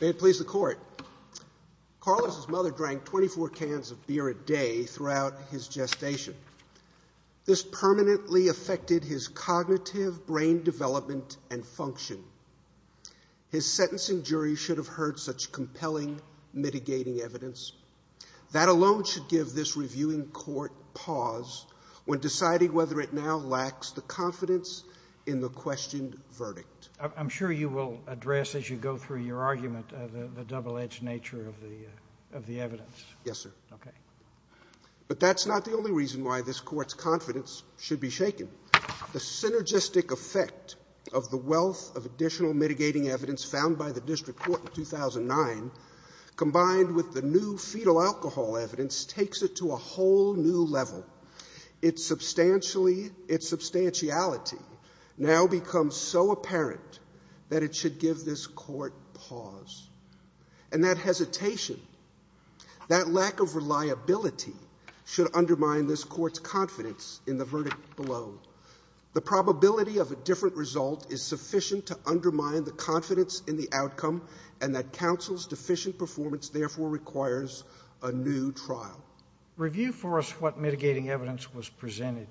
May it please the Court, Carlos' mother drank 24 cans of beer a day throughout his gestation. This permanently affected his cognitive brain development and function. His sentencing jury should have heard such compelling mitigating evidence. That alone should give this reviewing court pause when deciding whether it now lacks the confidence in the questioned verdict. I'm sure you will address as you go through your argument the double-edged nature of the evidence. Yes, sir. But that's not the only reason why this court's confidence should be shaken. The synergistic effect of the wealth of additional mitigating evidence found by the District Court in 2009, combined with the new fetal alcohol evidence, takes it to a whole new level. Its substantiality now becomes so apparent that it should give this court pause. And that hesitation, that lack of reliability, should undermine this court's confidence in the verdict below. The probability of a different result is sufficient to undermine the confidence in the outcome, and that counsel's deficient performance, therefore, requires a new trial. Review for us what mitigating evidence was presented.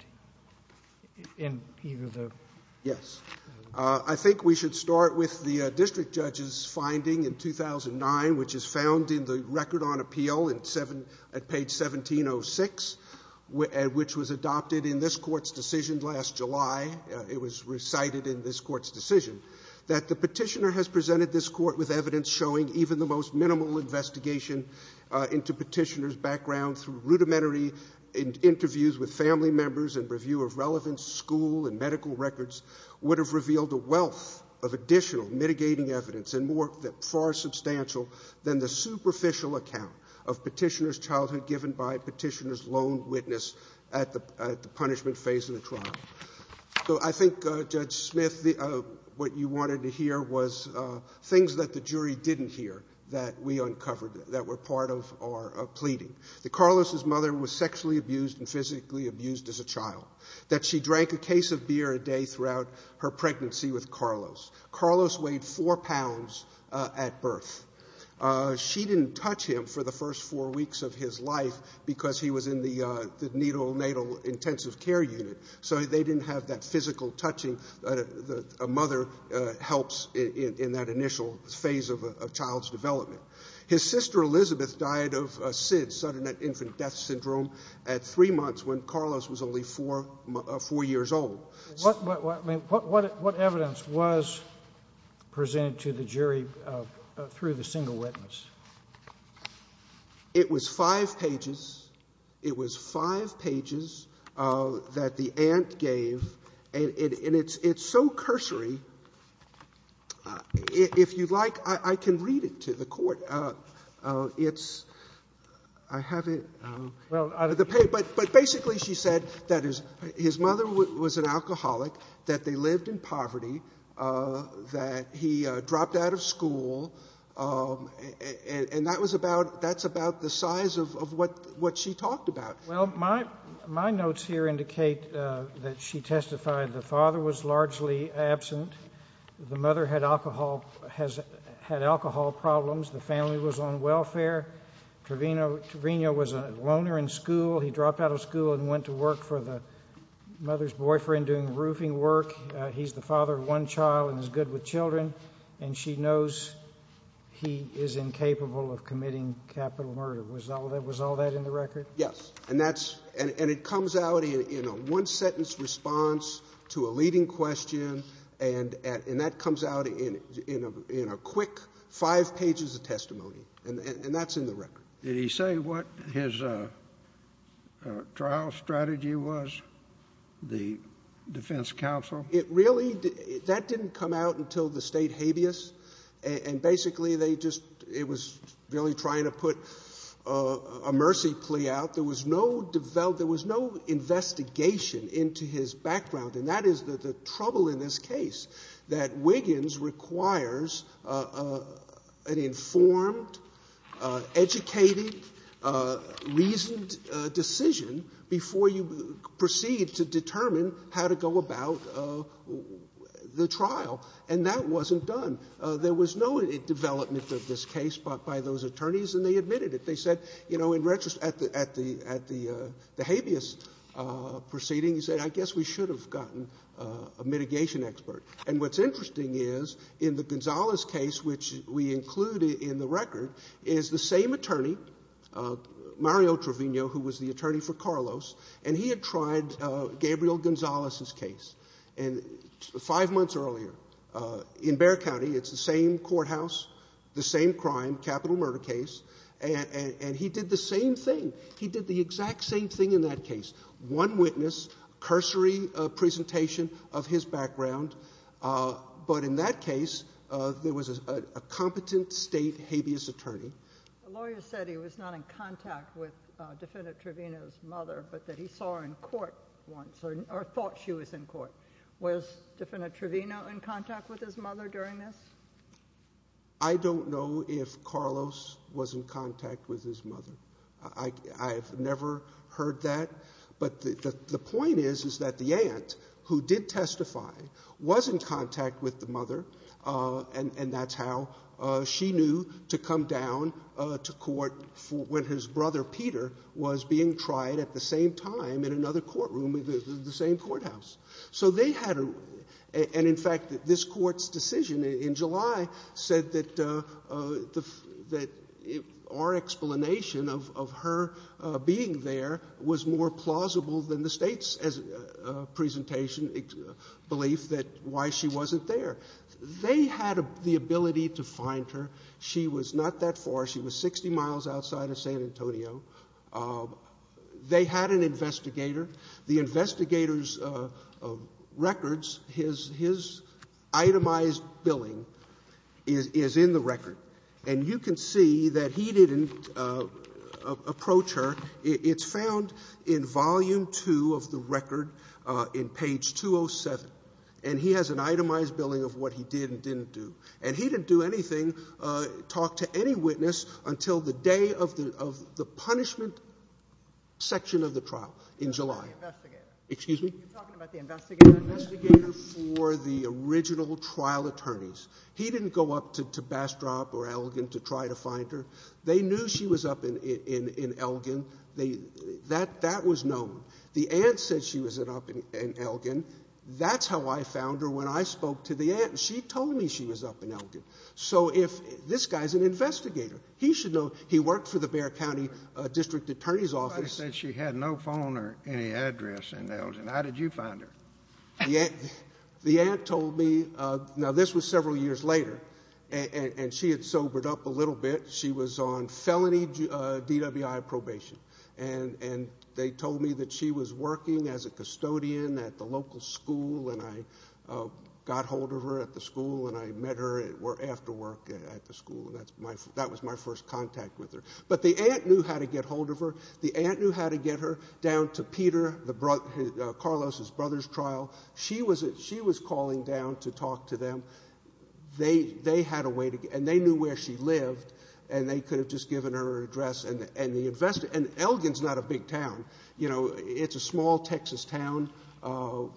Yes. I think we should start with the District Judge's finding in 2009, which is found in the Record on Appeal at page 1706, which was adopted in this court's decision last July. It was recited in this court's decision that the Petitioner has presented this court with evidence showing even the most minimal investigation into Petitioner's background through rudimentary interviews with family members and review of relevant school and medical records would have revealed a wealth of additional mitigating evidence, and more far substantial than the superficial account of Petitioner's childhood given by Petitioner's lone witness at the punishment phase of the trial. So I think, Judge Smith, what you wanted to hear was things that the jury didn't hear that we uncovered that were part of our pleading. That Carlos's mother was sexually abused and physically abused as a child. That she drank a case of beer a day throughout her pregnancy with Carlos. Carlos weighed four pounds at birth. She didn't touch him for the first four weeks of his life because he was in the needle, natal intensive care unit, so they didn't have that physical touching that a mother helps in that initial phase of a child's development. His sister Elizabeth died of SIDS, sudden infant death syndrome, at three months when Carlos was only four years old. What evidence was presented to the jury through the single witness? It was five pages. It was five pages that the aunt gave, and it's so cursory, if you'd like, I can read it to the court. It's, I have it, but basically she said that his mother was sexually abused. And that was about, that's about the size of what she talked about. Well, my notes here indicate that she testified the father was largely absent. The mother had alcohol problems. The family was on welfare. Trevino was a loner in school. He dropped out of school and went to work for the mother's boyfriend doing roofing work. He's the father of one child and is good with children, and she knows he is incapable of committing capital murder. Was all that in the record? Yes. And that's, and it comes out in a one-sentence response to a leading question, and that comes out in a quick five pages of testimony. And that's in the record. Did he say what his trial strategy was, the defense counsel? It really, that didn't come out until the state habeas, and basically they just, it was really trying to put a mercy plea out. There was no, there was no investigation into his background, and that is the trouble in this case, that Wiggins requires an informed, educated, reasoned decision before you proceed to determine how to go about the trial, and that wasn't done. There was no development of this case by those attorneys, and they admitted it. They said, you know, in retrospect, at the habeas proceedings, they said, I guess we should have gotten a mitigation expert. And what's interesting is, in the Gonzalez case, which we include in the record, is the same attorney, Mario Trevino, who was the attorney for Carlos, and he had tried Gabriel Gonzalez's case, and five months earlier, in Bexar County, it's the same courthouse, the same crime, capital murder case, and he did the same thing. He did the exact same thing in that case. One witness, cursory presentation of his background, but in that case, there was a competent state habeas attorney. The lawyer said he was not in contact with Defendant Trevino's mother, but that he saw her in court once, or thought she was in court. Was Defendant Trevino in contact with his mother during this? I don't know if Carlos was in contact with his mother. I've never heard that, but the attorney who did testify was in contact with the mother, and that's how she knew to come down to court when his brother, Peter, was being tried at the same time in another courtroom in the same courthouse. So they had a, and in fact, this court's decision in July said that our explanation of her being there was more plausible than the state's presentation, belief that, why she wasn't there. They had the ability to find her. She was not that far. She was 60 miles outside of San Antonio. They had an investigator. The investigator's records, his itemized billing is in the record, and you can see that he didn't approach her. It's found in Volume 2 of the record, in page 207, and he has an itemized billing of what he did and didn't do, and he didn't do anything, talk to any witness, until the day of the punishment section of the trial in July. The investigator. Excuse me? You're talking about the investigator? The investigator for the original trial attorneys. He didn't go up to Bastrop or Elgin to try to find her. They knew she was up in Elgin. That was known. The aunt said she was up in Elgin. That's how I found her when I spoke to the aunt. She told me she was up in Elgin. So if, this guy's an investigator. He should know, he worked for the Bexar County District Attorney's office. Somebody said she had no phone or any address in Elgin. How did you find her? The aunt told me, now this was several years later, and she had sobered up a little bit. She was on felony DWI probation, and they told me that she was working as a custodian at the local school, and I got hold of her at the school, and I met her after work at the school. That was my first contact with her. But the aunt knew how to get hold of her. The aunt knew how to get her down to Peter, Carlos's brother's trial. She was calling down to talk to them. They knew where she lived, and they could have just given her an address. Elgin's not a big town. It's a small Texas town, a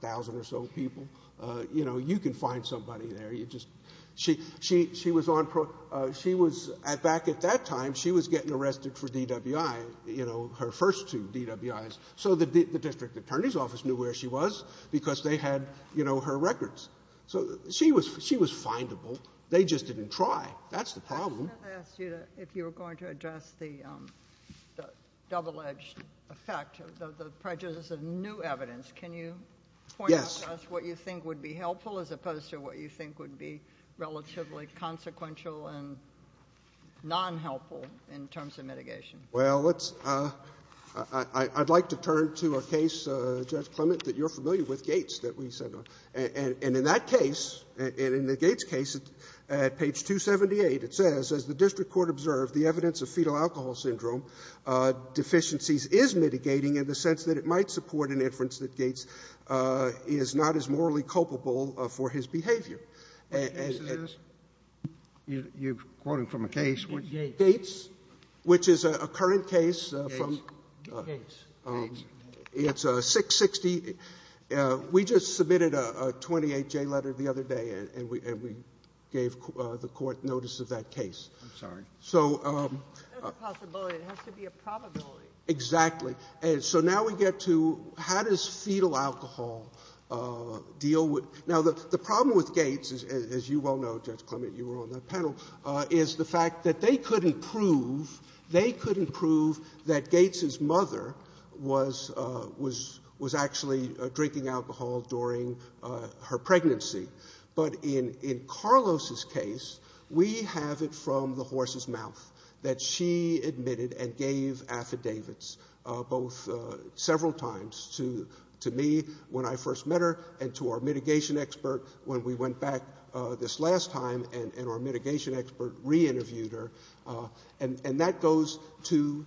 thousand or so people. You can find somebody there. Back at that time, she was getting arrested for DWI. Her first two DWIs. The district attorney's office knew where she was because they had her records. She was findable. They just didn't try. That's the problem. I was going to ask you, if you were going to address the double-edged effect, the prejudice of new evidence, can you point out to us what you think would be helpful as opposed to what you think would be relatively consequential and non-helpful in terms of mitigation? Well, I'd like to turn to a case, Judge Clement, that you're familiar with, Gates, that we sent on. And in that case, and in the Gates case, at page 278, it says, as the district court observed, the evidence of fetal alcohol syndrome deficiencies is mitigating in the sense that it might support an inference that Gates is not as morally culpable for his behavior. You're quoting from a case. Gates, which is a current case. It's 660. We just submitted a 28-J letter the other day, and we gave the court notice of that case. I'm sorry. That's a possibility. It has to be a probability. Exactly. So now we get to, how does fetal alcohol deal with... Now, the problem with Gates, as you well know, Judge Clement, you were on that panel, is the fact that they couldn't prove that Gates' mother was actually drinking alcohol during her pregnancy. But in Carlos' case, we have it from the horse's mouth, that she admitted and gave affidavits, both several times to me when I first met her, and to our mitigation expert when we went back this last time, and our mitigation expert re-interviewed her. And that goes to,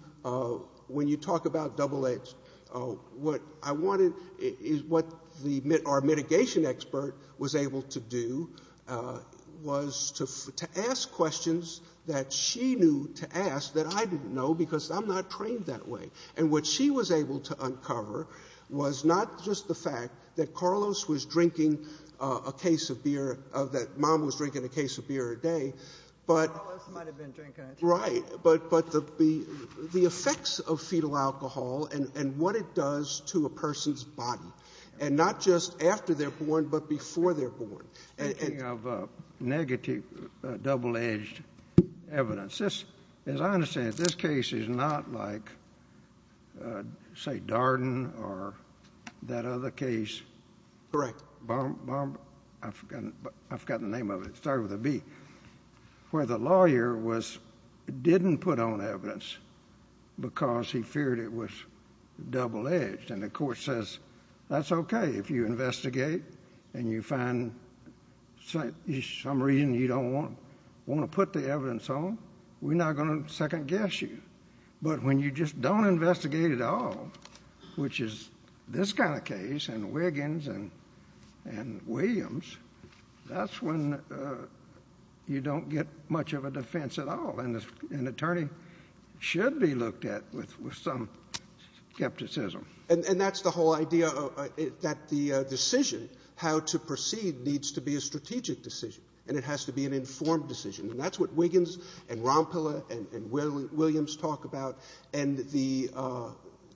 when you talk about double-edged, what our mitigation expert was able to do was to ask questions that she knew to ask that I didn't know because I'm not trained that way. And what she was able to uncover was not just the fact that Carlos was drinking a case of beer, that mom was drinking a case of beer a day, but... Carlos might have been drinking it. Right. But the effects of fetal alcohol and what it does to a person's body, and not just after they're born, but before they're born. Speaking of negative double-edged evidence, as I understand it, this case is not like, say, Darden or that other case. Correct. I forgot the name of it. It started with a B. Where the lawyer didn't put on evidence because he feared it was double-edged. And the court says, that's okay if you investigate and you find some reason you don't want to put the evidence on, we're not going to second-guess you. But when you just don't investigate at all, which is this kind of case and Wiggins and Williams, that's when you don't get much of a defense at all. And an attorney should be looked at with some skepticism. And that's the whole idea that the decision, how to proceed, needs to be a strategic decision. And it has to be an informed decision. And that's what Wiggins and Rompela and Williams talk about. And the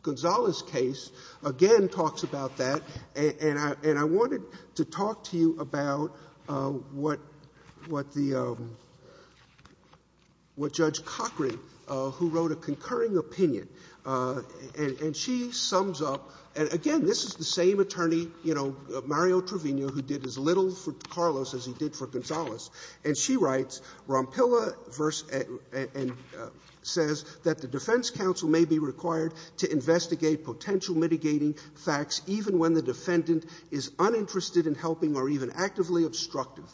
Gonzales case, again, talks about that. And I wanted to talk to you about what Judge Cochran, who wrote a concurring opinion, and she sums up, and again, this is the same attorney, Mario Trevino, who did as little for Carlos as he did for Gonzales, and she writes, Rompela says that the defense counsel may be required to investigate potential mitigating facts even when the defendant is uninterested in helping or even actively obstructive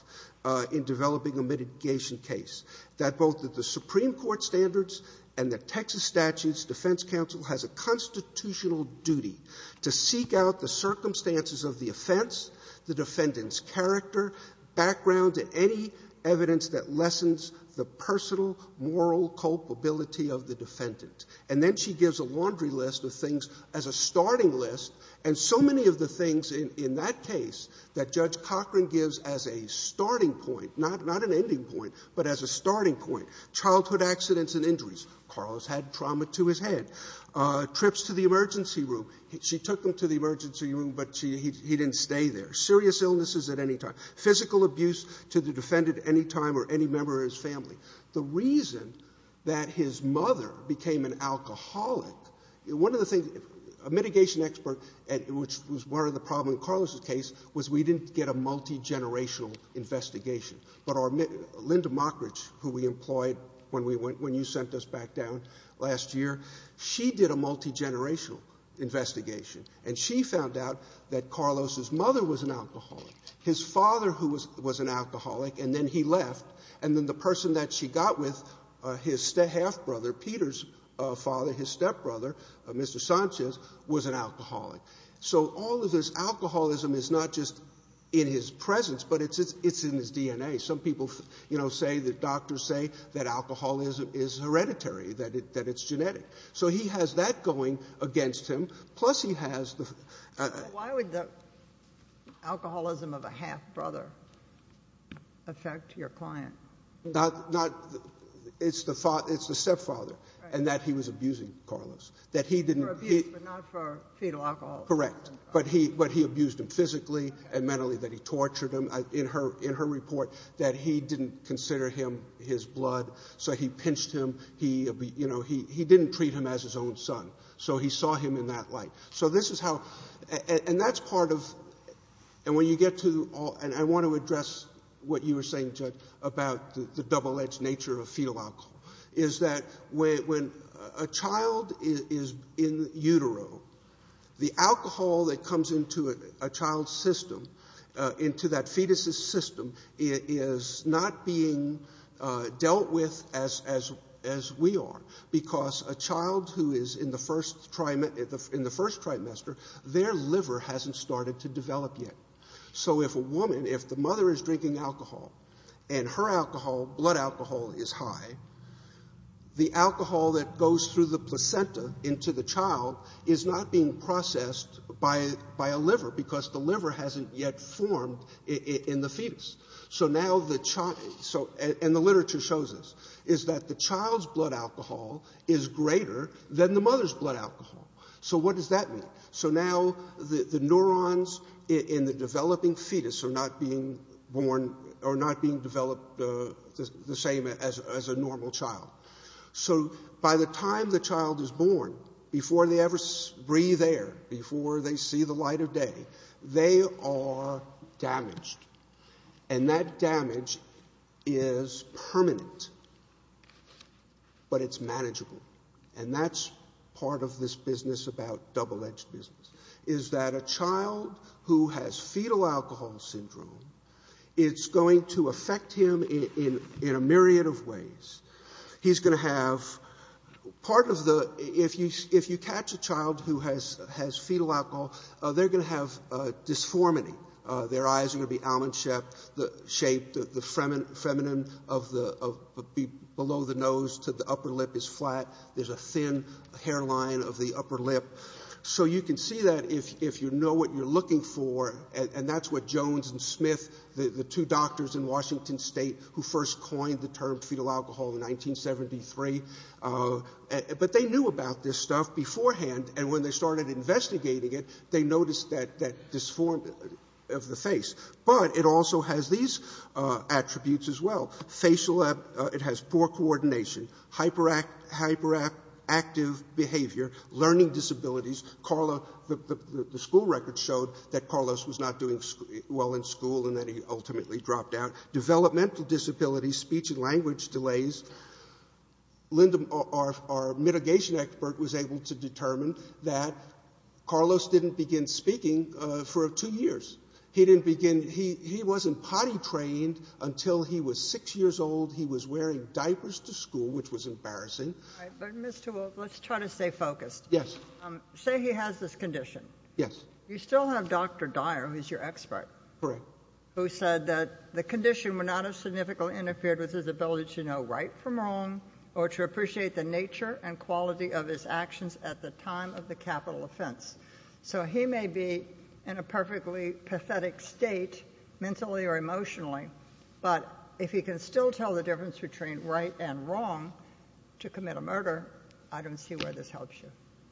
in developing a mitigation case. That both the Supreme Court standards and the Texas statutes, defense counsel has a constitutional duty to seek out the circumstances of the offense, the defendant's character, background, and any evidence that lessens the personal moral culpability of the defendant. And then she gives a laundry list of things as a starting list, and so many of the things in that case that Judge Cochran gives as a starting point, not an ending point, but as a starting point. Childhood accidents and injuries. Carlos had trauma to his head. Trips to the emergency room. She took him to the emergency room, but he didn't stay there. Serious illnesses at any time. Physical abuse to the defendant at any time or any member of his family. The reason that his mother became an alcoholic, one of the things, a mitigation expert, which was part of the problem in Carlos's case was we didn't get a multigenerational investigation, but Linda Mockridge, who we employed when you sent us back down last year, she did a multigenerational investigation, and she found out that Carlos's mother was an alcoholic, his father was an alcoholic, and then he left, and then the person that she got with, his half-brother, Peter's father, his stepbrother, Mr. Sanchez, was an alcoholic. So all of this alcoholism is not just in his presence, but it's in his DNA. Some people say that doctors say that alcoholism is hereditary, that it's genetic. So he has that going against him, plus he has the... Why would the alcoholism of a half-brother affect your client? It's the stepfather, and that he was abusing Carlos. For abuse, but not for fetal alcoholism. Correct, but he abused him physically and mentally, that he tortured him. In her report, that he didn't consider him his blood, so he pinched him. He didn't treat him as his own son, so he saw him in that light. So this is how... And that's part of... And I want to address what you were saying, Judge, about the double-edged nature of fetal alcohol, is that when a child is in utero, the alcohol that comes into a child's system, into that fetus's system, is not being dealt with as we are. Because a child who is in the first trimester, their liver hasn't started to develop yet. So if a woman, if the mother is drinking alcohol, and her alcohol, blood alcohol, is high, the alcohol that goes through the placenta into the child is not being processed by a liver, because the liver hasn't yet formed in the fetus. And the literature shows this, is that the child's blood alcohol is greater than the mother's blood alcohol. So what does that mean? So now the neurons in the developing fetus are not being developed the same as a normal child. So by the time the child is born, before they ever breathe air, before they see the light of day, they are damaged. And that damage is permanent, but it's manageable. And that's part of this business about double-edged business, is that a child who has fetal alcohol syndrome, it's going to affect him in a myriad of ways. He's going to have part of the... If you catch a child who has fetal alcohol, they're going to have dysformity. Their eyes are going to be almond-shaped. The feminine below the nose to the upper lip is flat. There's a thin hairline of the upper lip. So you can see that if you know what you're looking for, and that's what Jones and Smith, the two doctors in Washington State who first coined the term fetal alcohol in 1973, but they knew about this stuff beforehand, and when they started investigating it, they noticed that dysformity of the face. But it also has these attributes as well. It has poor coordination, hyperactive behavior, learning disabilities. The school records showed that Carlos was not doing well in school and that he ultimately dropped out. Developmental disabilities, speech and language delays. Linda, our mitigation expert, was able to determine that Carlos didn't begin speaking for 2 years. He didn't begin... He wasn't potty-trained until he was 6 years old. He was wearing diapers to school, which was embarrassing. But, Mr. Wolfe, let's try to stay focused. Yes. Say he has this condition. Yes. You still have Dr. Dyer, who's your expert... Correct. ...who said that the condition would not have significantly interfered with his ability to know right from wrong or to appreciate the nature and quality of his actions at the time of the capital offense. So he may be in a perfectly pathetic state, mentally or emotionally, but if he can still tell the difference between right and wrong to commit a murder, I don't see where this helps you.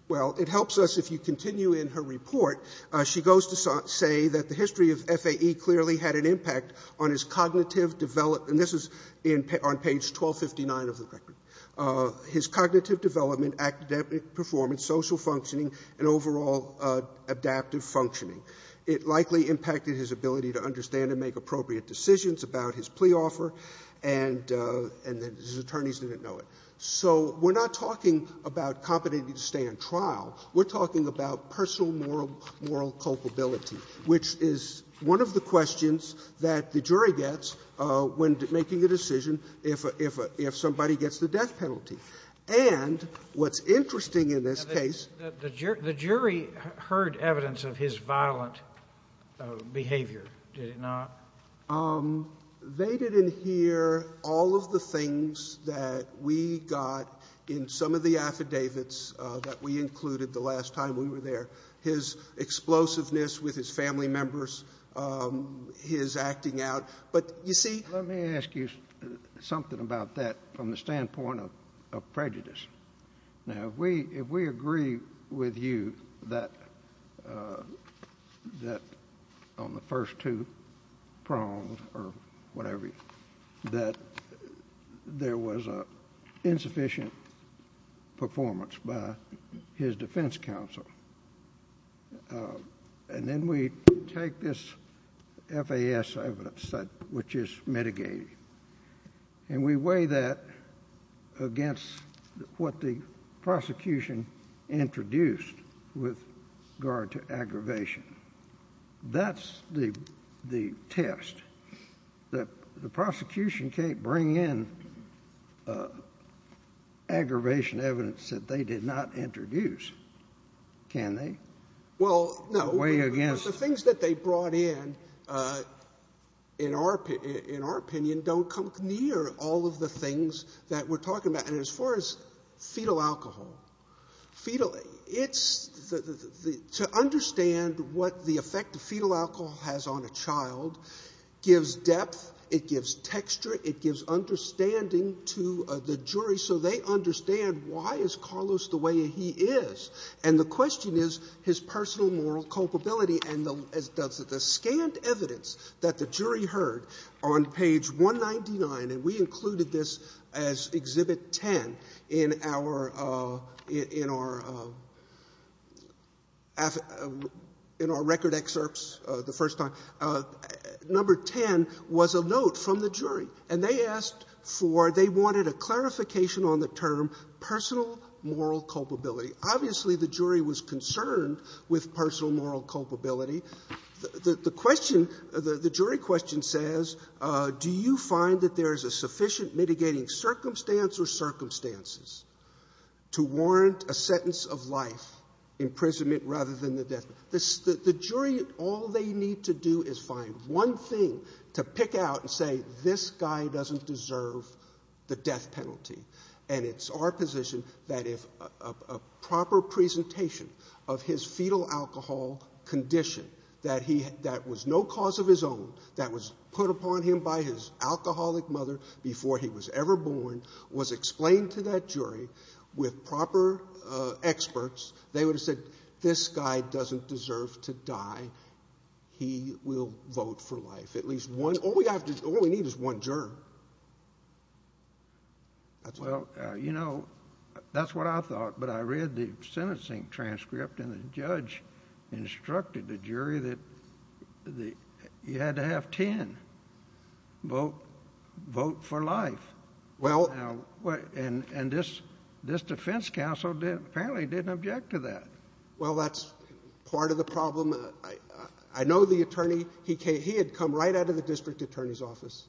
Well, it helps us if you continue in her report. She goes to say that the history of FAE clearly had an impact on his cognitive develop... And this is on page 1259 of the record. ..his cognitive development, academic performance, social functioning and overall adaptive functioning. It likely impacted his ability to understand and make appropriate decisions about his plea offer and that his attorneys didn't know it. So we're not talking about competency to stay on trial. We're talking about personal moral culpability, which is one of the questions that the jury gets when making a decision if somebody gets the death penalty. And what's interesting in this case... The jury heard evidence of his violent behaviour, did it not? They didn't hear all of the things that we got in some of the affidavits that we included the last time we were there. His explosiveness with his family members, his acting out. But, you see... Let me ask you something about that from the standpoint of prejudice. Now, if we agree with you that, on the first two prongs or whatever, that there was an insufficient performance by his defence counsel, and then we take this FAS evidence, which is mitigated, and we weigh that against what the prosecution introduced with regard to aggravation, that's the test. The prosecution can't bring in aggravation evidence that they did not introduce, can they? The things that they brought in, in our opinion, don't come near all of the things that we're talking about. And as far as fetal alcohol, to understand what the effect of fetal alcohol has on a child gives depth, it gives texture, it gives understanding to the jury so they understand why is Carlos the way he is. And the question is his personal moral culpability, and the scant evidence that the jury heard on page 199, and we included this as exhibit 10 in our record excerpts the first time, number 10 was a note from the jury, and they asked for, they wanted a clarification on the term personal moral culpability. Obviously the jury was concerned with personal moral culpability. The question, the jury question says, do you find that there is a sufficient mitigating circumstance or circumstances to warrant a sentence of life imprisonment rather than the death penalty? The jury, all they need to do is find one thing to pick out and say, this guy doesn't deserve the death penalty. And it's our position that if a proper presentation of his fetal alcohol condition that was no cause of his own, that was put upon him by his alcoholic mother before he was ever born, was explained to that jury with proper experts, they would have said, this guy doesn't deserve to die, he will vote for life. At least one, all we need is one juror. Well, you know, that's what I thought, but I read the sentencing transcript and the judge instructed the jury that you had to have ten vote for life. And this defense counsel apparently didn't object to that. Well, that's part of the problem. I know the attorney, he had come right out of the district attorney's office,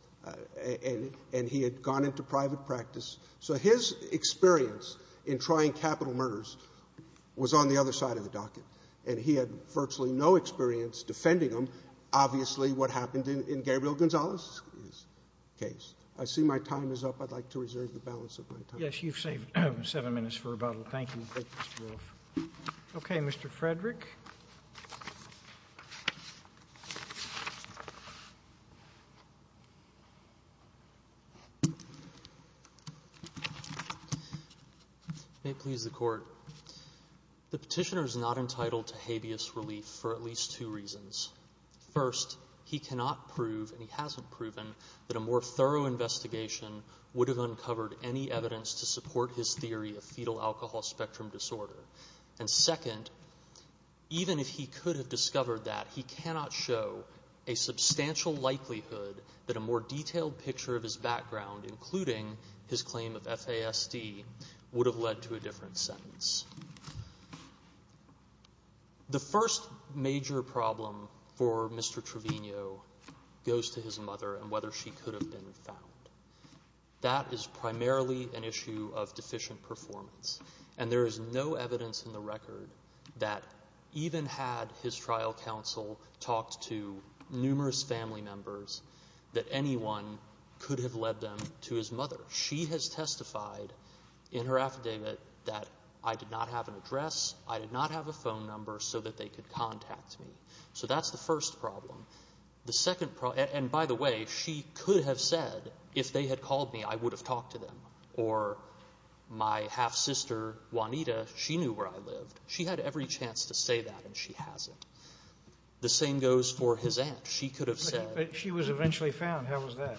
and he had gone into private practice. So his experience in trying capital murders was on the other side of the docket, and he had virtually no experience defending them, obviously what happened in Gabriel Gonzalez's case. I see my time is up. I'd like to reserve the balance of my time. Yes, you've saved seven minutes for rebuttal. Thank you. Okay, Mr. Frederick. May it please the Court. The petitioner is not entitled to habeas relief for at least two reasons. First, he cannot prove, and he hasn't proven, that a more thorough investigation would have uncovered any evidence to support his theory of fetal alcohol spectrum disorder. And second, even if he could have discovered that, he cannot show a substantial likelihood that a more detailed picture of his background, including his claim of FASD, would have led to a different sentence. The first major problem for Mr. Trevino goes to his mother and whether she could have been found. That is primarily an issue of deficient performance, and there is no evidence in the record that, even had his trial counsel talked to numerous family members, that anyone could have led them to his mother. She has testified in her affidavit that, I did not have an address, I did not have a phone number, so that they could contact me. So that's the first problem. And by the way, she could have said, if they had called me, I would have talked to them. Or my half-sister Juanita, she knew where I lived. She had every chance to say that, and she hasn't. The same goes for his aunt. She could have said... But she was eventually found. How was that?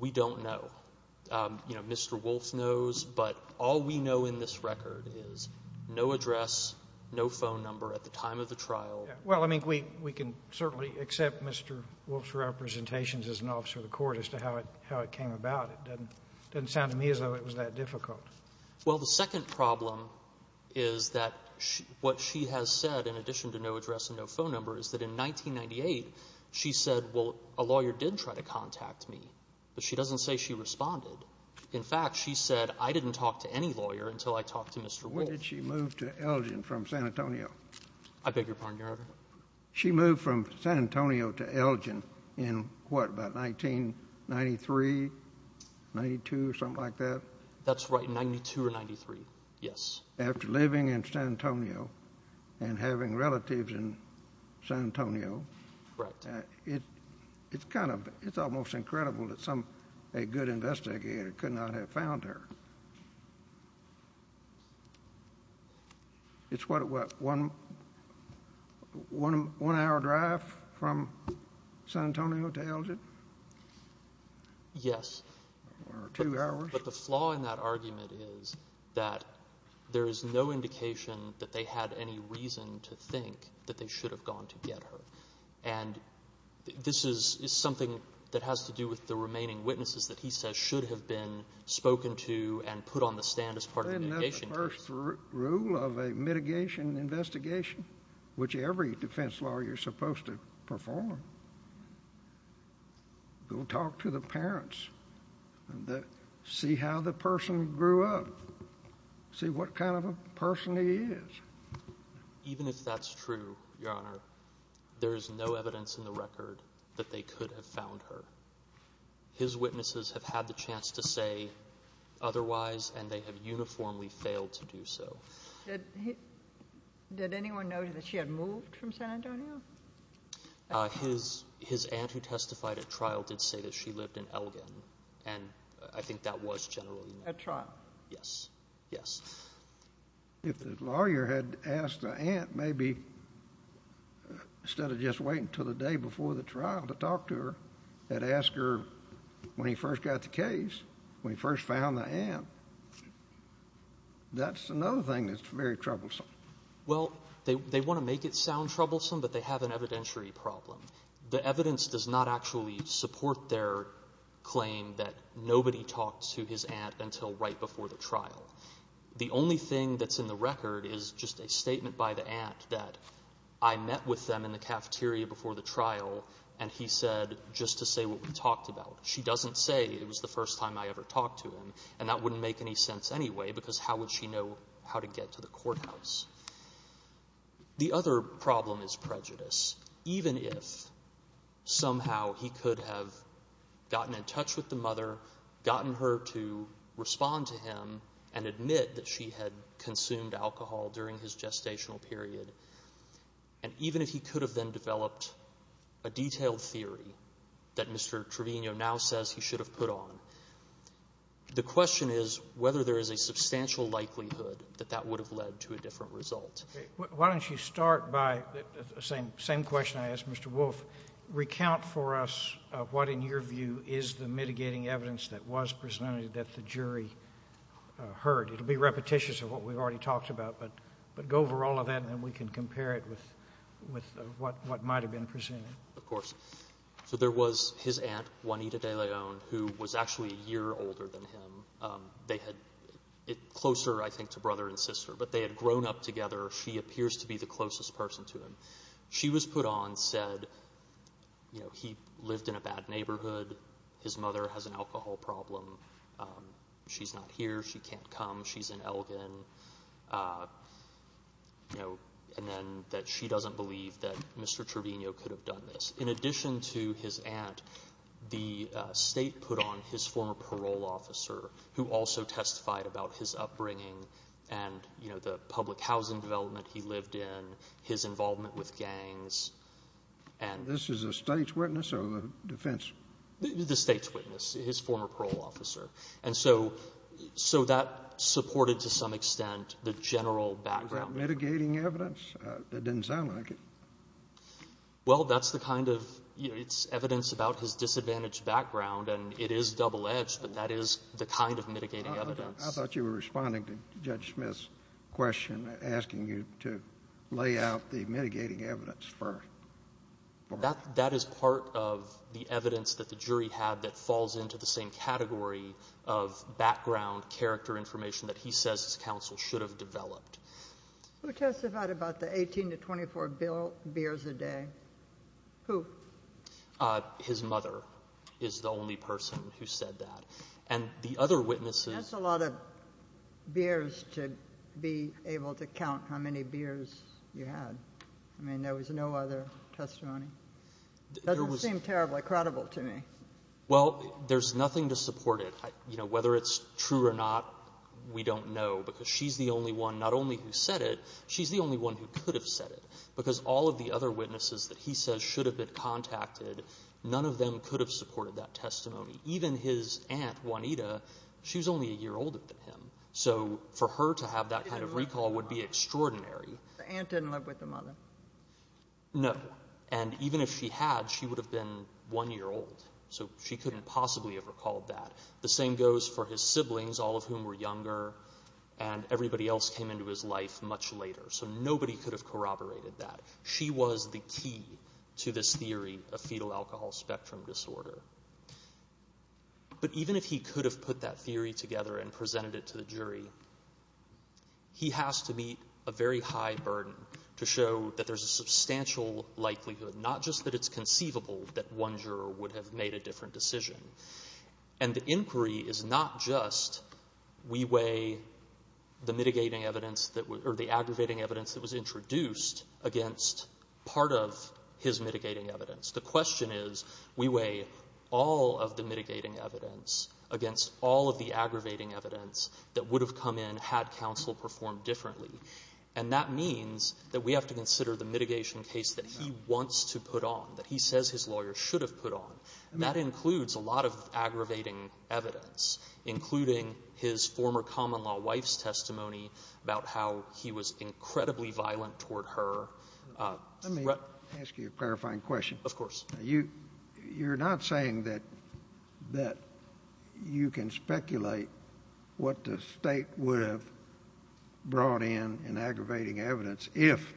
We don't know. Mr. Wolf knows, but all we know in this record is, no address, no phone number at the time of the trial. Well, I mean, we can certainly accept Mr. Wolf's representations as an officer of the court as to how it came about. It doesn't sound to me as though it was that difficult. Well, the second problem is that what she has said, in addition to no address and no phone number, is that in 1998, she said, well, a lawyer did try to contact me. But she doesn't say she responded. In fact, she said, I didn't talk to any lawyer until I talked to Mr. Wolf. When did she move to Elgin from San Antonio? I beg your pardon, Your Honor? She moved from San Antonio to Elgin in what, about 1993, 92, something like that? That's right, in 92 or 93, yes. After living in San Antonio and having relatives in San Antonio, it's kind of almost incredible that a good investigator could not have found her. It's what, what, one hour drive from San Antonio to Elgin? Yes. Or two hours. But the flaw in that argument is that there is no indication that they had any reason to think that they should have gone to get her. And this is something that has to do with the remaining witnesses that he says should have been spoken to and put on the stand as part of the mitigation case. Isn't that the first rule of a mitigation investigation, which every defense lawyer is supposed to perform? Go talk to the parents. See how the person grew up. See what kind of a person he is. Even if that's true, Your Honor, there is no evidence in the record that they could have found her. His witnesses have had the chance to say otherwise, and they have uniformly failed to do so. Did anyone know that she had moved from San Antonio? His aunt who testified at trial did say that she lived in Elgin, and I think that was generally known. At trial? Yes, yes. If the lawyer had asked the aunt maybe, instead of just waiting until the day before the trial to talk to her, had asked her when he first got the case, when he first found the aunt, that's another thing that's very troublesome. Well, they want to make it sound troublesome, but they have an evidentiary problem. The evidence does not actually support their claim that nobody talked to his aunt until right before the trial. The only thing that's in the record is just a statement by the aunt that I met with them in the cafeteria before the trial and he said just to say what we talked about. She doesn't say it was the first time I ever talked to him, and that wouldn't make any sense anyway because how would she know how to get to the courthouse? The other problem is prejudice. Even if somehow he could have gotten in touch with the mother, gotten her to respond to him and admit that she had consumed alcohol during his gestational period, and even if he could have then developed a detailed theory that Mr. Trevino now says he should have put on, the question is whether there is a substantial likelihood that that would have led to a different result. Why don't you start by the same question I asked Mr. Wolfe. Recount for us what in your view is the mitigating evidence that was presented that the jury heard. It will be repetitious of what we've already talked about, but go over all of that and then we can compare it with what might have been presented. Of course. So there was his aunt, Juanita de Leon, who was actually a year older than him. Closer I think to brother and sister, but they had grown up together. She appears to be the closest person to him. She was put on, said he lived in a bad neighborhood, his mother has an alcohol problem, she's not here, she can't come, she's in Elgin. And then that she doesn't believe that Mr. Trevino could have done this. In addition to his aunt, the state put on his former parole officer, who also testified about his upbringing and the public housing development he lived in, his involvement with gangs. This is the state's witness or the defense? The state's witness, his former parole officer. And so that supported to some extent the general background. Mitigating evidence? That didn't sound like it. Well, that's the kind of evidence about his disadvantaged background, and it is double-edged, but that is the kind of mitigating evidence. I thought you were responding to Judge Smith's question, asking you to lay out the mitigating evidence first. That is part of the evidence that the jury had that falls into the same category of background character information that he says his counsel should have developed. Who testified about the 18 to 24 beers a day? Who? His mother is the only person who said that. And the other witnesses. That's a lot of beers to be able to count how many beers you had. I mean, there was no other testimony? It doesn't seem terribly credible to me. Well, there's nothing to support it. Whether it's true or not, we don't know, because she's the only one not only who said it, she's the only one who could have said it, because all of the other witnesses that he says should have been contacted, none of them could have supported that testimony. Even his aunt, Juanita, she was only a year older than him. So for her to have that kind of recall would be extraordinary. The aunt didn't live with the mother? No. And even if she had, she would have been one year old. So she couldn't possibly have recalled that. The same goes for his siblings, all of whom were younger, and everybody else came into his life much later. So nobody could have corroborated that. She was the key to this theory of fetal alcohol spectrum disorder. But even if he could have put that theory together and presented it to the jury, he has to meet a very high burden to show that there's a substantial likelihood, not just that it's conceivable that one juror would have made a different decision. And the inquiry is not just we weigh the mitigating evidence, or the aggravating evidence that was introduced against part of his mitigating evidence. The question is we weigh all of the mitigating evidence against all of the aggravating evidence that would have come in had counsel performed differently. And that means that we have to consider the mitigation case that he wants to put on, that he says his lawyer should have put on. And that includes a lot of aggravating evidence, including his former common-law wife's testimony about how he was incredibly violent toward her. Let me ask you a clarifying question. Of course. You're not saying that you can speculate what the state would have brought in in aggravating evidence if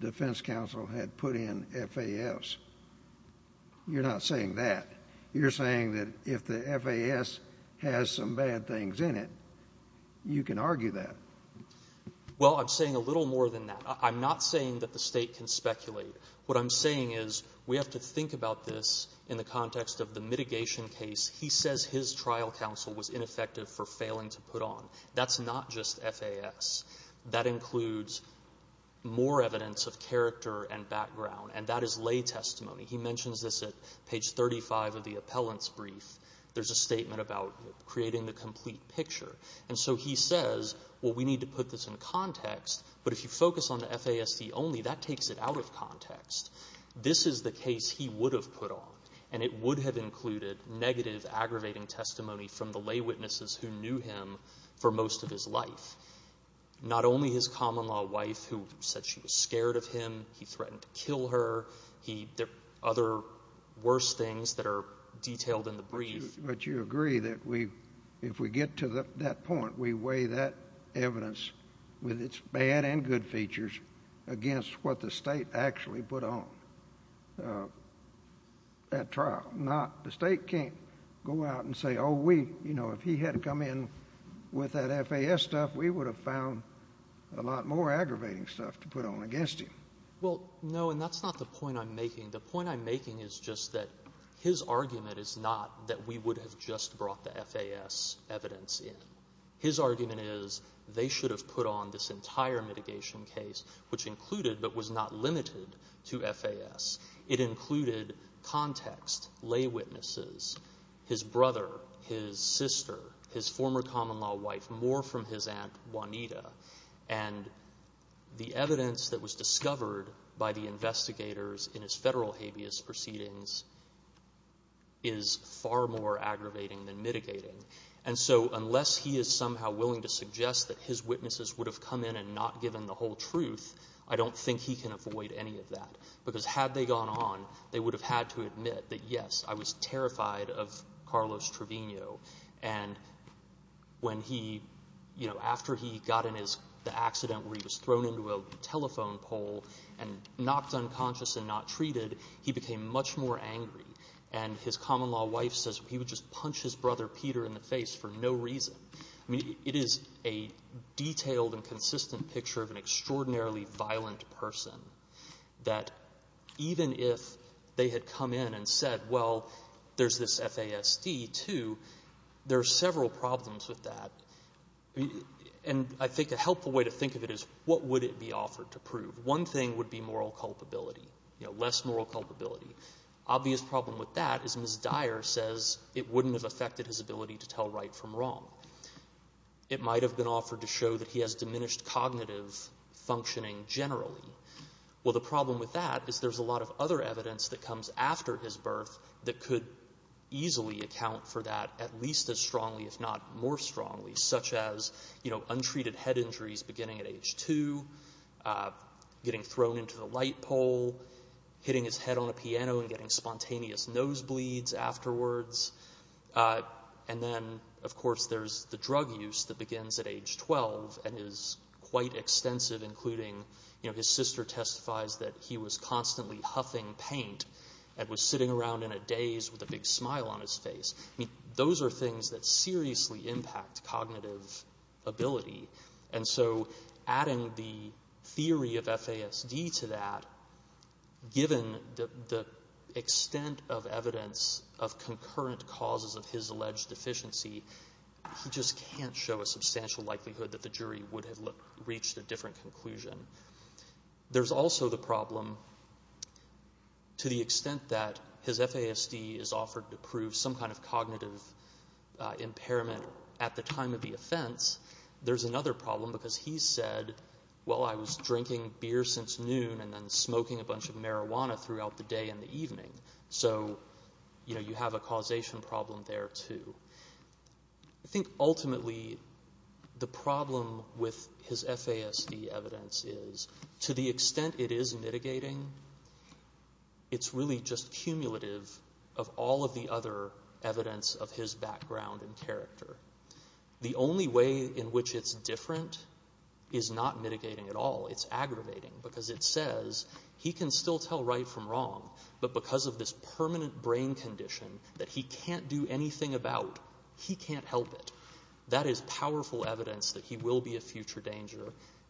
defense counsel had put in FAS. You're not saying that. You're saying that if the FAS has some bad things in it, you can argue that. Well, I'm saying a little more than that. I'm not saying that the state can speculate. What I'm saying is we have to think about this in the context of the mitigation case. He says his trial counsel was ineffective for failing to put on. That's not just FAS. That includes more evidence of character and background, and that is lay testimony. He mentions this at page 35 of the appellant's brief. There's a statement about creating the complete picture. And so he says, well, we need to put this in context, but if you focus on the FASD only, that takes it out of context. This is the case he would have put on, and it would have included negative aggravating testimony from the lay witnesses who knew him for most of his life, not only his common-law wife who said she was scared of him, he threatened to kill her. There are other worse things that are detailed in the brief. But you agree that if we get to that point, we weigh that evidence with its bad and good features against what the state actually put on at trial. The state can't go out and say, oh, we, you know, if he had come in with that FAS stuff, we would have found a lot more aggravating stuff to put on against him. Well, no, and that's not the point I'm making. The point I'm making is just that his argument is not that we would have just brought the FAS evidence in. His argument is they should have put on this entire mitigation case, which included but was not limited to FAS. It included context, lay witnesses, his brother, his sister, his former common-law wife, more from his aunt Juanita, and the evidence that was discovered by the investigators in his federal habeas proceedings is far more aggravating than mitigating. And so unless he is somehow willing to suggest that his witnesses would have come in and not given the whole truth, I don't think he can avoid any of that. Because had they gone on, they would have had to admit that, yes, I was terrified of Carlos Trevino. And when he, you know, after he got in the accident where he was thrown into a telephone pole and knocked unconscious and not treated, he became much more angry. And his common-law wife says he would just punch his brother Peter in the face for no reason. I mean, it is a detailed and consistent picture of an extraordinarily violent person that even if they had come in and said, well, there's this FASD too, there are several problems with that. And I think a helpful way to think of it is what would it be offered to prove? One thing would be moral culpability, you know, less moral culpability. Obvious problem with that is Ms. Dyer says it wouldn't have affected his ability to tell right from wrong. It might have been offered to show that he has diminished cognitive functioning generally. Well, the problem with that is there's a lot of other evidence that comes after his birth that could easily account for that at least as strongly, if not more strongly, such as, you know, untreated head injuries beginning at age two, getting thrown into the light pole, hitting his head on a piano and getting spontaneous nosebleeds afterwards. And then, of course, there's the drug use that begins at age 12 and is quite extensive including, you know, his sister testifies that he was constantly huffing paint and was sitting around in a daze with a big smile on his face. I mean, those are things that seriously impact cognitive ability. And so adding the theory of FASD to that, given the extent of evidence of concurrent causes of his alleged deficiency, he just can't show a substantial likelihood that the jury would have reached a different conclusion. There's also the problem to the extent that his FASD is offered to prove some kind of cognitive impairment at the time of the offense, there's another problem because he said, well, I was drinking beer since noon and then smoking a bunch of marijuana throughout the day and the evening. So, you know, you have a causation problem there too. I think ultimately the problem with his FASD evidence is to the extent it is mitigating, it's really just cumulative of all of the other evidence of his background and character. The only way in which it's different is not mitigating at all. It's aggravating because it says he can still tell right from wrong, but because of this permanent brain condition that he can't do anything about, he can't help it. That is powerful evidence that he will be a future danger,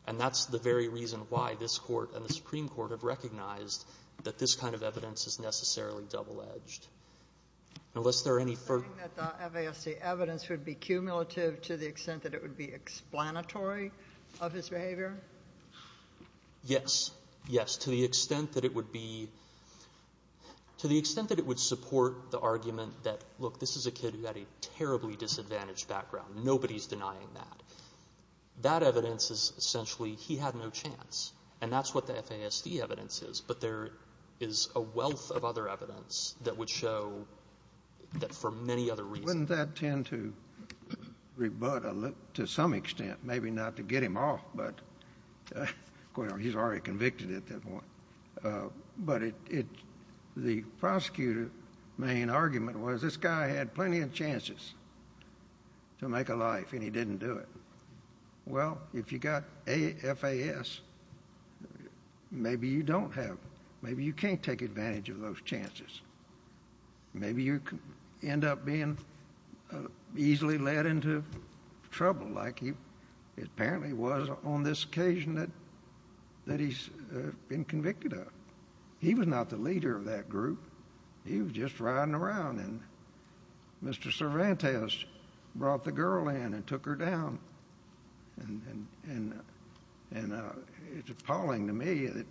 and that's the very reason why this Court and the Supreme Court have recognized that this kind of evidence is necessarily double-edged. Unless there are any further... You're saying that the FASD evidence would be cumulative to the extent that it would be explanatory of his behavior? Yes. Yes. To the extent that it would be... To the extent that it would support the argument that, look, this is a kid who had a terribly disadvantaged background. Nobody's denying that. That evidence is essentially he had no chance, and that's what the FASD evidence is, but there is a wealth of other evidence that would show that, for many other reasons... Wouldn't that tend to rebut, to some extent, maybe not to get him off, but... Well, he's already convicted at this point. But the prosecutor's main argument was, this guy had plenty of chances to make a life, and he didn't do it. Well, if you got FAS, maybe you don't have... Maybe you can't take advantage of those chances. Maybe you end up being easily led into trouble, like he apparently was on this occasion that he's been convicted of. He was not the leader of that group. He was just riding around, and Mr. Cervantes brought the girl in and took her down. And it's appalling to me that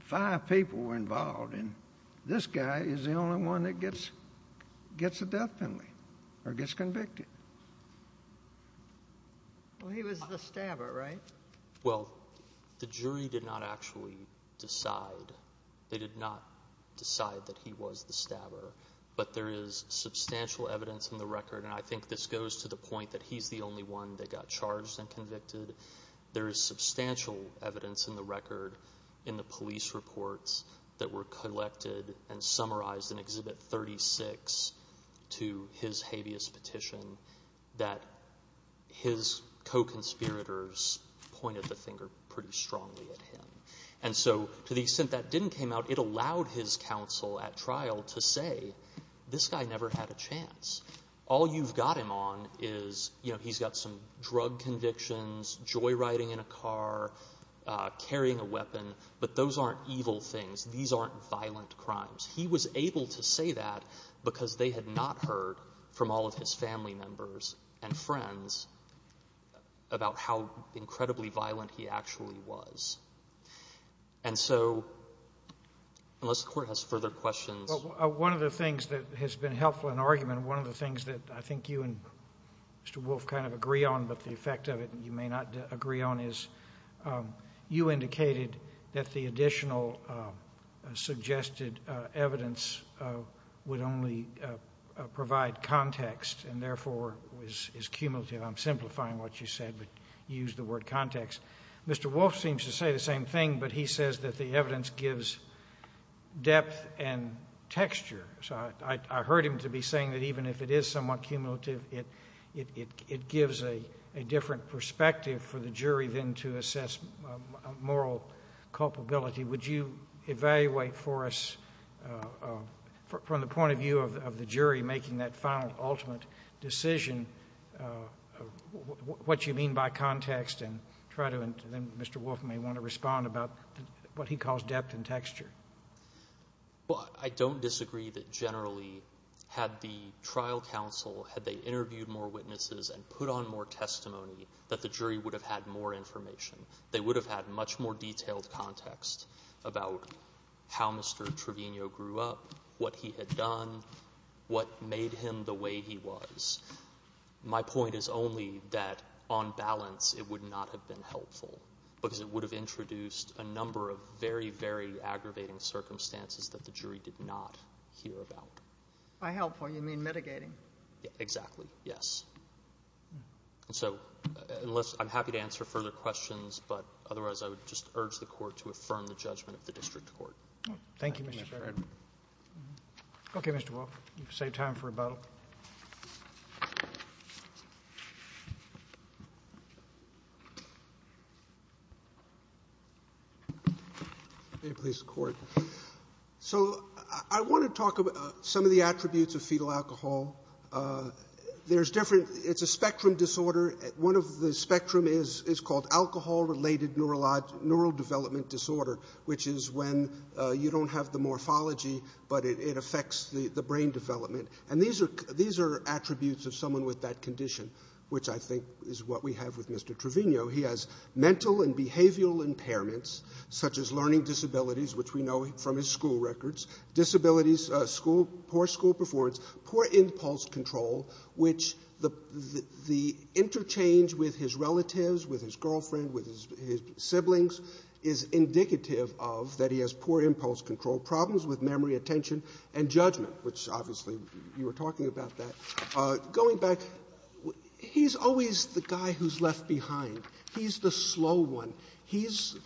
five people were involved, and this guy is the only one that gets a death penalty, or gets convicted. Well, he was the stabber, right? Well, the jury did not actually decide... They did not decide that he was the stabber, but there is substantial evidence in the record, and I think this goes to the point that he's the only one that got charged and convicted. There is substantial evidence in the record in the police reports that were collected and summarized in Exhibit 36 to his habeas petition that his co-conspirators pointed the finger pretty strongly at him. And so, to the extent that didn't come out, it allowed his counsel at trial to say, this guy never had a chance. All you've got him on is, you know, he's got some drug convictions, joyriding in a car, carrying a weapon, but those aren't evil things. These aren't violent crimes. He was able to say that because they had not heard from all of his family members and friends about how incredibly violent he actually was. And so, unless the Court has further questions... One of the things that has been helpful in argument, one of the things that I think you and Mr Wolf kind of agree on, but the effect of it you may not agree on, is you indicated that the additional suggested evidence would only provide context and therefore is cumulative. I'm simplifying what you said, but you used the word context. Mr Wolf seems to say the same thing, but he says that the evidence gives depth and texture. I heard him to be saying that even if it is somewhat cumulative, it gives a different perspective for the jury than to assess moral culpability. Would you evaluate for us, from the point of view of the jury, making that final, ultimate decision, what you mean by context? And then Mr Wolf may want to respond about what he calls depth and texture. Well, I don't disagree that generally had the trial counsel, had they interviewed more witnesses and put on more testimony, that the jury would have had more information. They would have had much more detailed context about how Mr Trevino grew up, what he had done, what made him the way he was. My point is only that, on balance, it would not have been helpful, because it would have introduced a number of very, very aggravating circumstances that the jury did not hear about. By helpful, you mean mitigating. Exactly, yes. So I'm happy to answer further questions, but otherwise I would just urge the Court to affirm the judgment of the district court. Thank you, Mr Trevino. Okay, Mr Wolf, you've saved time for rebuttal. May it please the Court. So I want to talk about some of the attributes of fetal alcohol. There's different... It's a spectrum disorder. One of the spectrum is called alcohol-related neurodevelopment disorder, which is when you don't have the morphology, but it affects the brain development. And these are attributes of someone with that condition, which I think is what we have with Mr Trevino. He has mental and behavioural impairments, such as learning disabilities, which we know from his school records, disabilities, poor school performance, poor impulse control, which the interchange with his relatives, with his girlfriend, with his siblings, is indicative of that he has poor impulse control, problems with memory, attention, and judgment, which obviously you were talking about that. Going back, he's always the guy who's left behind. He's the slow one. He's...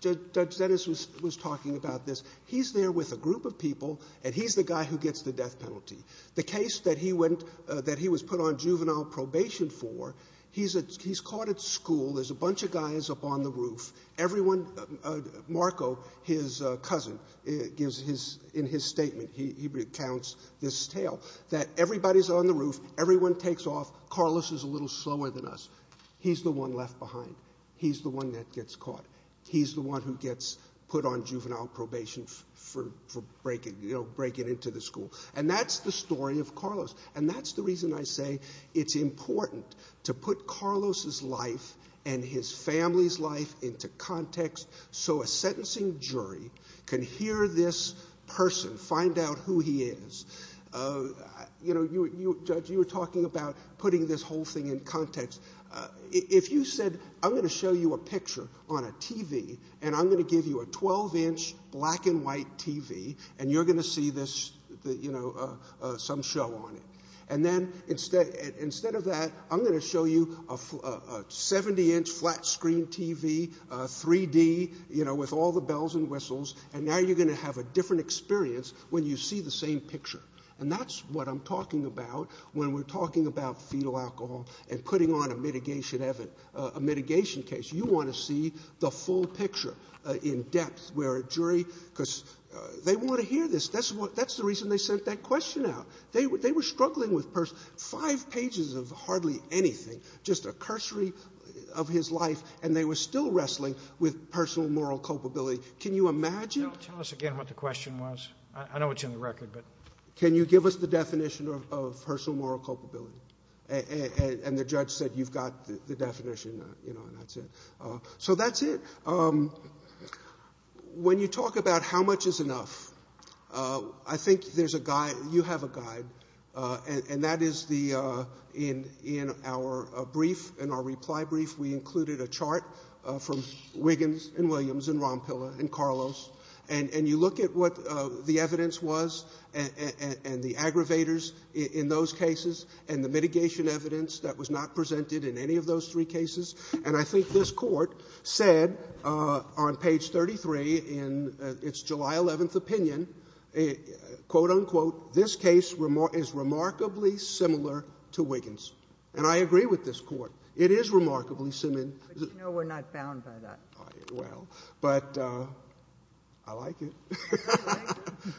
Judge Dennis was talking about this. He's there with a group of people, and he's the guy who gets the death penalty. The case that he was put on juvenile probation for, he's caught at school. There's a bunch of guys up on the roof. Everyone... Marco, his cousin, in his statement, he recounts this tale, that everybody's on the roof, everyone takes off, Carlos is a little slower than us. He's the one left behind. He's the one that gets caught. He's the one who gets put on juvenile probation for breaking into the school. And that's the story of Carlos. And that's the reason I say it's important to put Carlos's life and his family's life into context so a sentencing jury can hear this person, find out who he is. You know, Judge, you were talking about putting this whole thing in context. If you said, I'm going to show you a picture on a TV, and I'm going to give you a 12-inch black-and-white TV, and you're going to see this, you know, some show on it, and then instead of that, I'm going to show you a 70-inch flat-screen TV, 3-D, you know, with all the bells and whistles, and now you're going to have a different experience when you see the same picture. And that's what I'm talking about when we're talking about fetal alcohol and putting on a mitigation case. You want to see the full picture in depth, where a jury... because they want to hear this. That's the reason they sent that question out. They were struggling with five pages of hardly anything, just a cursory of his life, and they were still wrestling with personal moral culpability. Can you imagine...? Tell us again what the question was. I know it's in the record, but... Can you give us the definition of personal moral culpability? And the judge said, you've got the definition, you know, and that's it. So that's it. When you talk about how much is enough, I think there's a guide... you have a guide, and that is the... In our brief, in our reply brief, we included a chart from Wiggins and Williams and Rompilla and Carlos, and you look at what the evidence was and the aggravators in those cases and the mitigation evidence that was not presented in any of those three cases, and I think this court said on page 33 in its July 11th opinion, quote-unquote, this case is remarkably similar to Wiggins. And I agree with this court. It is remarkably simi... No, we're not bound by that. Well, but... I like it.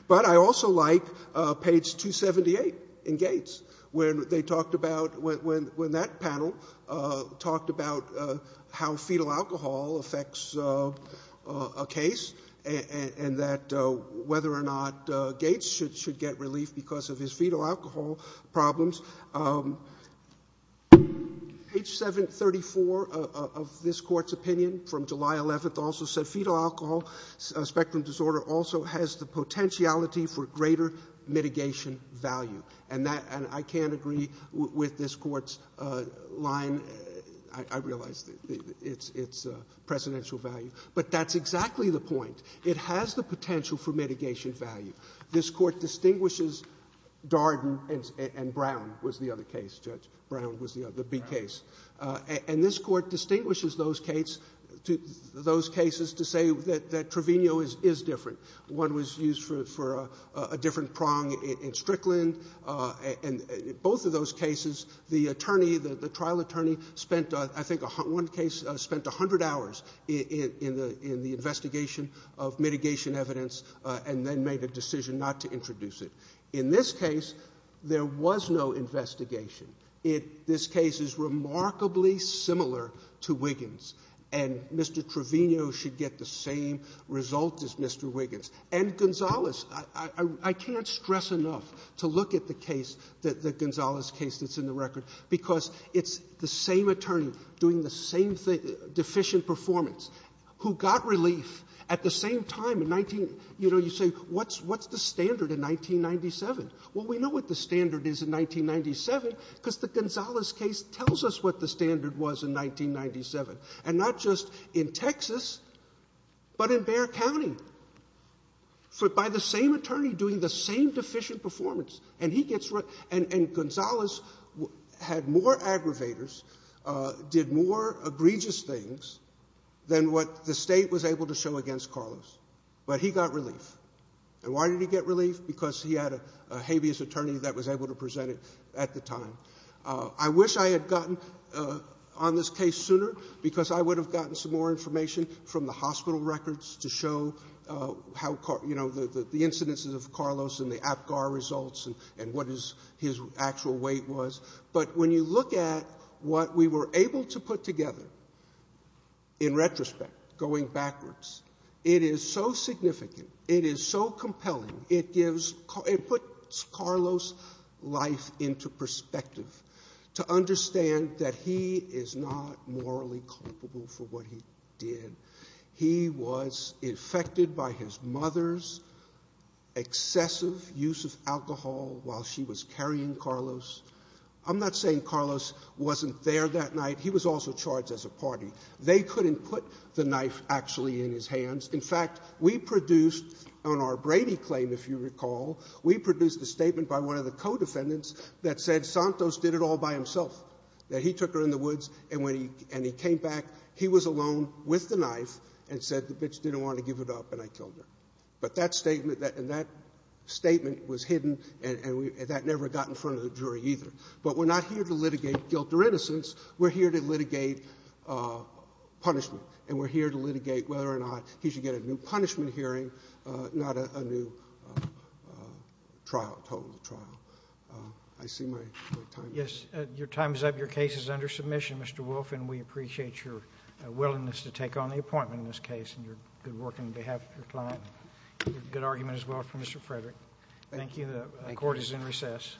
But I also like page 278 in Gates, where they talked about... when that panel talked about how fetal alcohol affects a case and that whether or not Gates should get relief because of his fetal alcohol problems. Page 734 of this court's opinion from July 11th also said fetal alcohol spectrum disorder also has the potentiality for greater mitigation value. And I can't agree with this court's line. I realize it's presidential value. But that's exactly the point. It has the potential for mitigation value. This court distinguishes Darden and Brown, was the other case, Judge. Brown was the B case. And this court distinguishes those cases to say that Trevino is different. One was used for a different prong in Strickland. In both of those cases, the trial attorney spent, I think, one case, spent 100 hours in the investigation of mitigation evidence and then made a decision not to introduce it. In this case, there was no investigation. This case is remarkably similar to Wiggins. And Mr. Trevino should get the same result as Mr. Wiggins. And Gonzales. I can't stress enough to look at the case, the Gonzales case that's in the record, because it's the same attorney doing the same deficient performance who got relief at the same time in 19... You know, you say, what's the standard in 1997? Well, we know what the standard is in 1997 because the Gonzales case tells us what the standard was in 1997. And not just in Texas, but in Bexar County. By the same attorney doing the same deficient performance. And he gets... And Gonzales had more aggravators, did more egregious things than what the state was able to show against Carlos. But he got relief. And why did he get relief? Because he had a habeas attorney that was able to present it at the time. I wish I had gotten on this case sooner because I would have gotten some more information from the hospital records to show the incidences of Carlos and the APGAR results and what his actual weight was. But when you look at what we were able to put together, in retrospect, going backwards, it is so significant, it is so compelling, it puts Carlos' life into perspective. To understand that he is not morally culpable for what he did. He was infected by his mother's excessive use of alcohol while she was carrying Carlos. I'm not saying Carlos wasn't there that night. He was also charged as a party. They couldn't put the knife actually in his hands. In fact, we produced, on our Brady claim, if you recall, we produced a statement by one of the co-defendants that said Santos did it all by himself. That he took her in the woods and he came back. He was alone with the knife and said the bitch didn't want to give it up and I killed her. But that statement was hidden and that never got in front of the jury either. But we're not here to litigate guilt or innocence. We're here to litigate punishment. And we're here to litigate whether or not he should get a new punishment hearing, not a new trial, total trial. I see my time is up. Yes, your time is up. Your case is under submission, Mr. Wolf, and we appreciate your willingness to take on the appointment in this case and your good work on behalf of your client. Good argument as well from Mr. Frederick. Thank you. The court is in recess.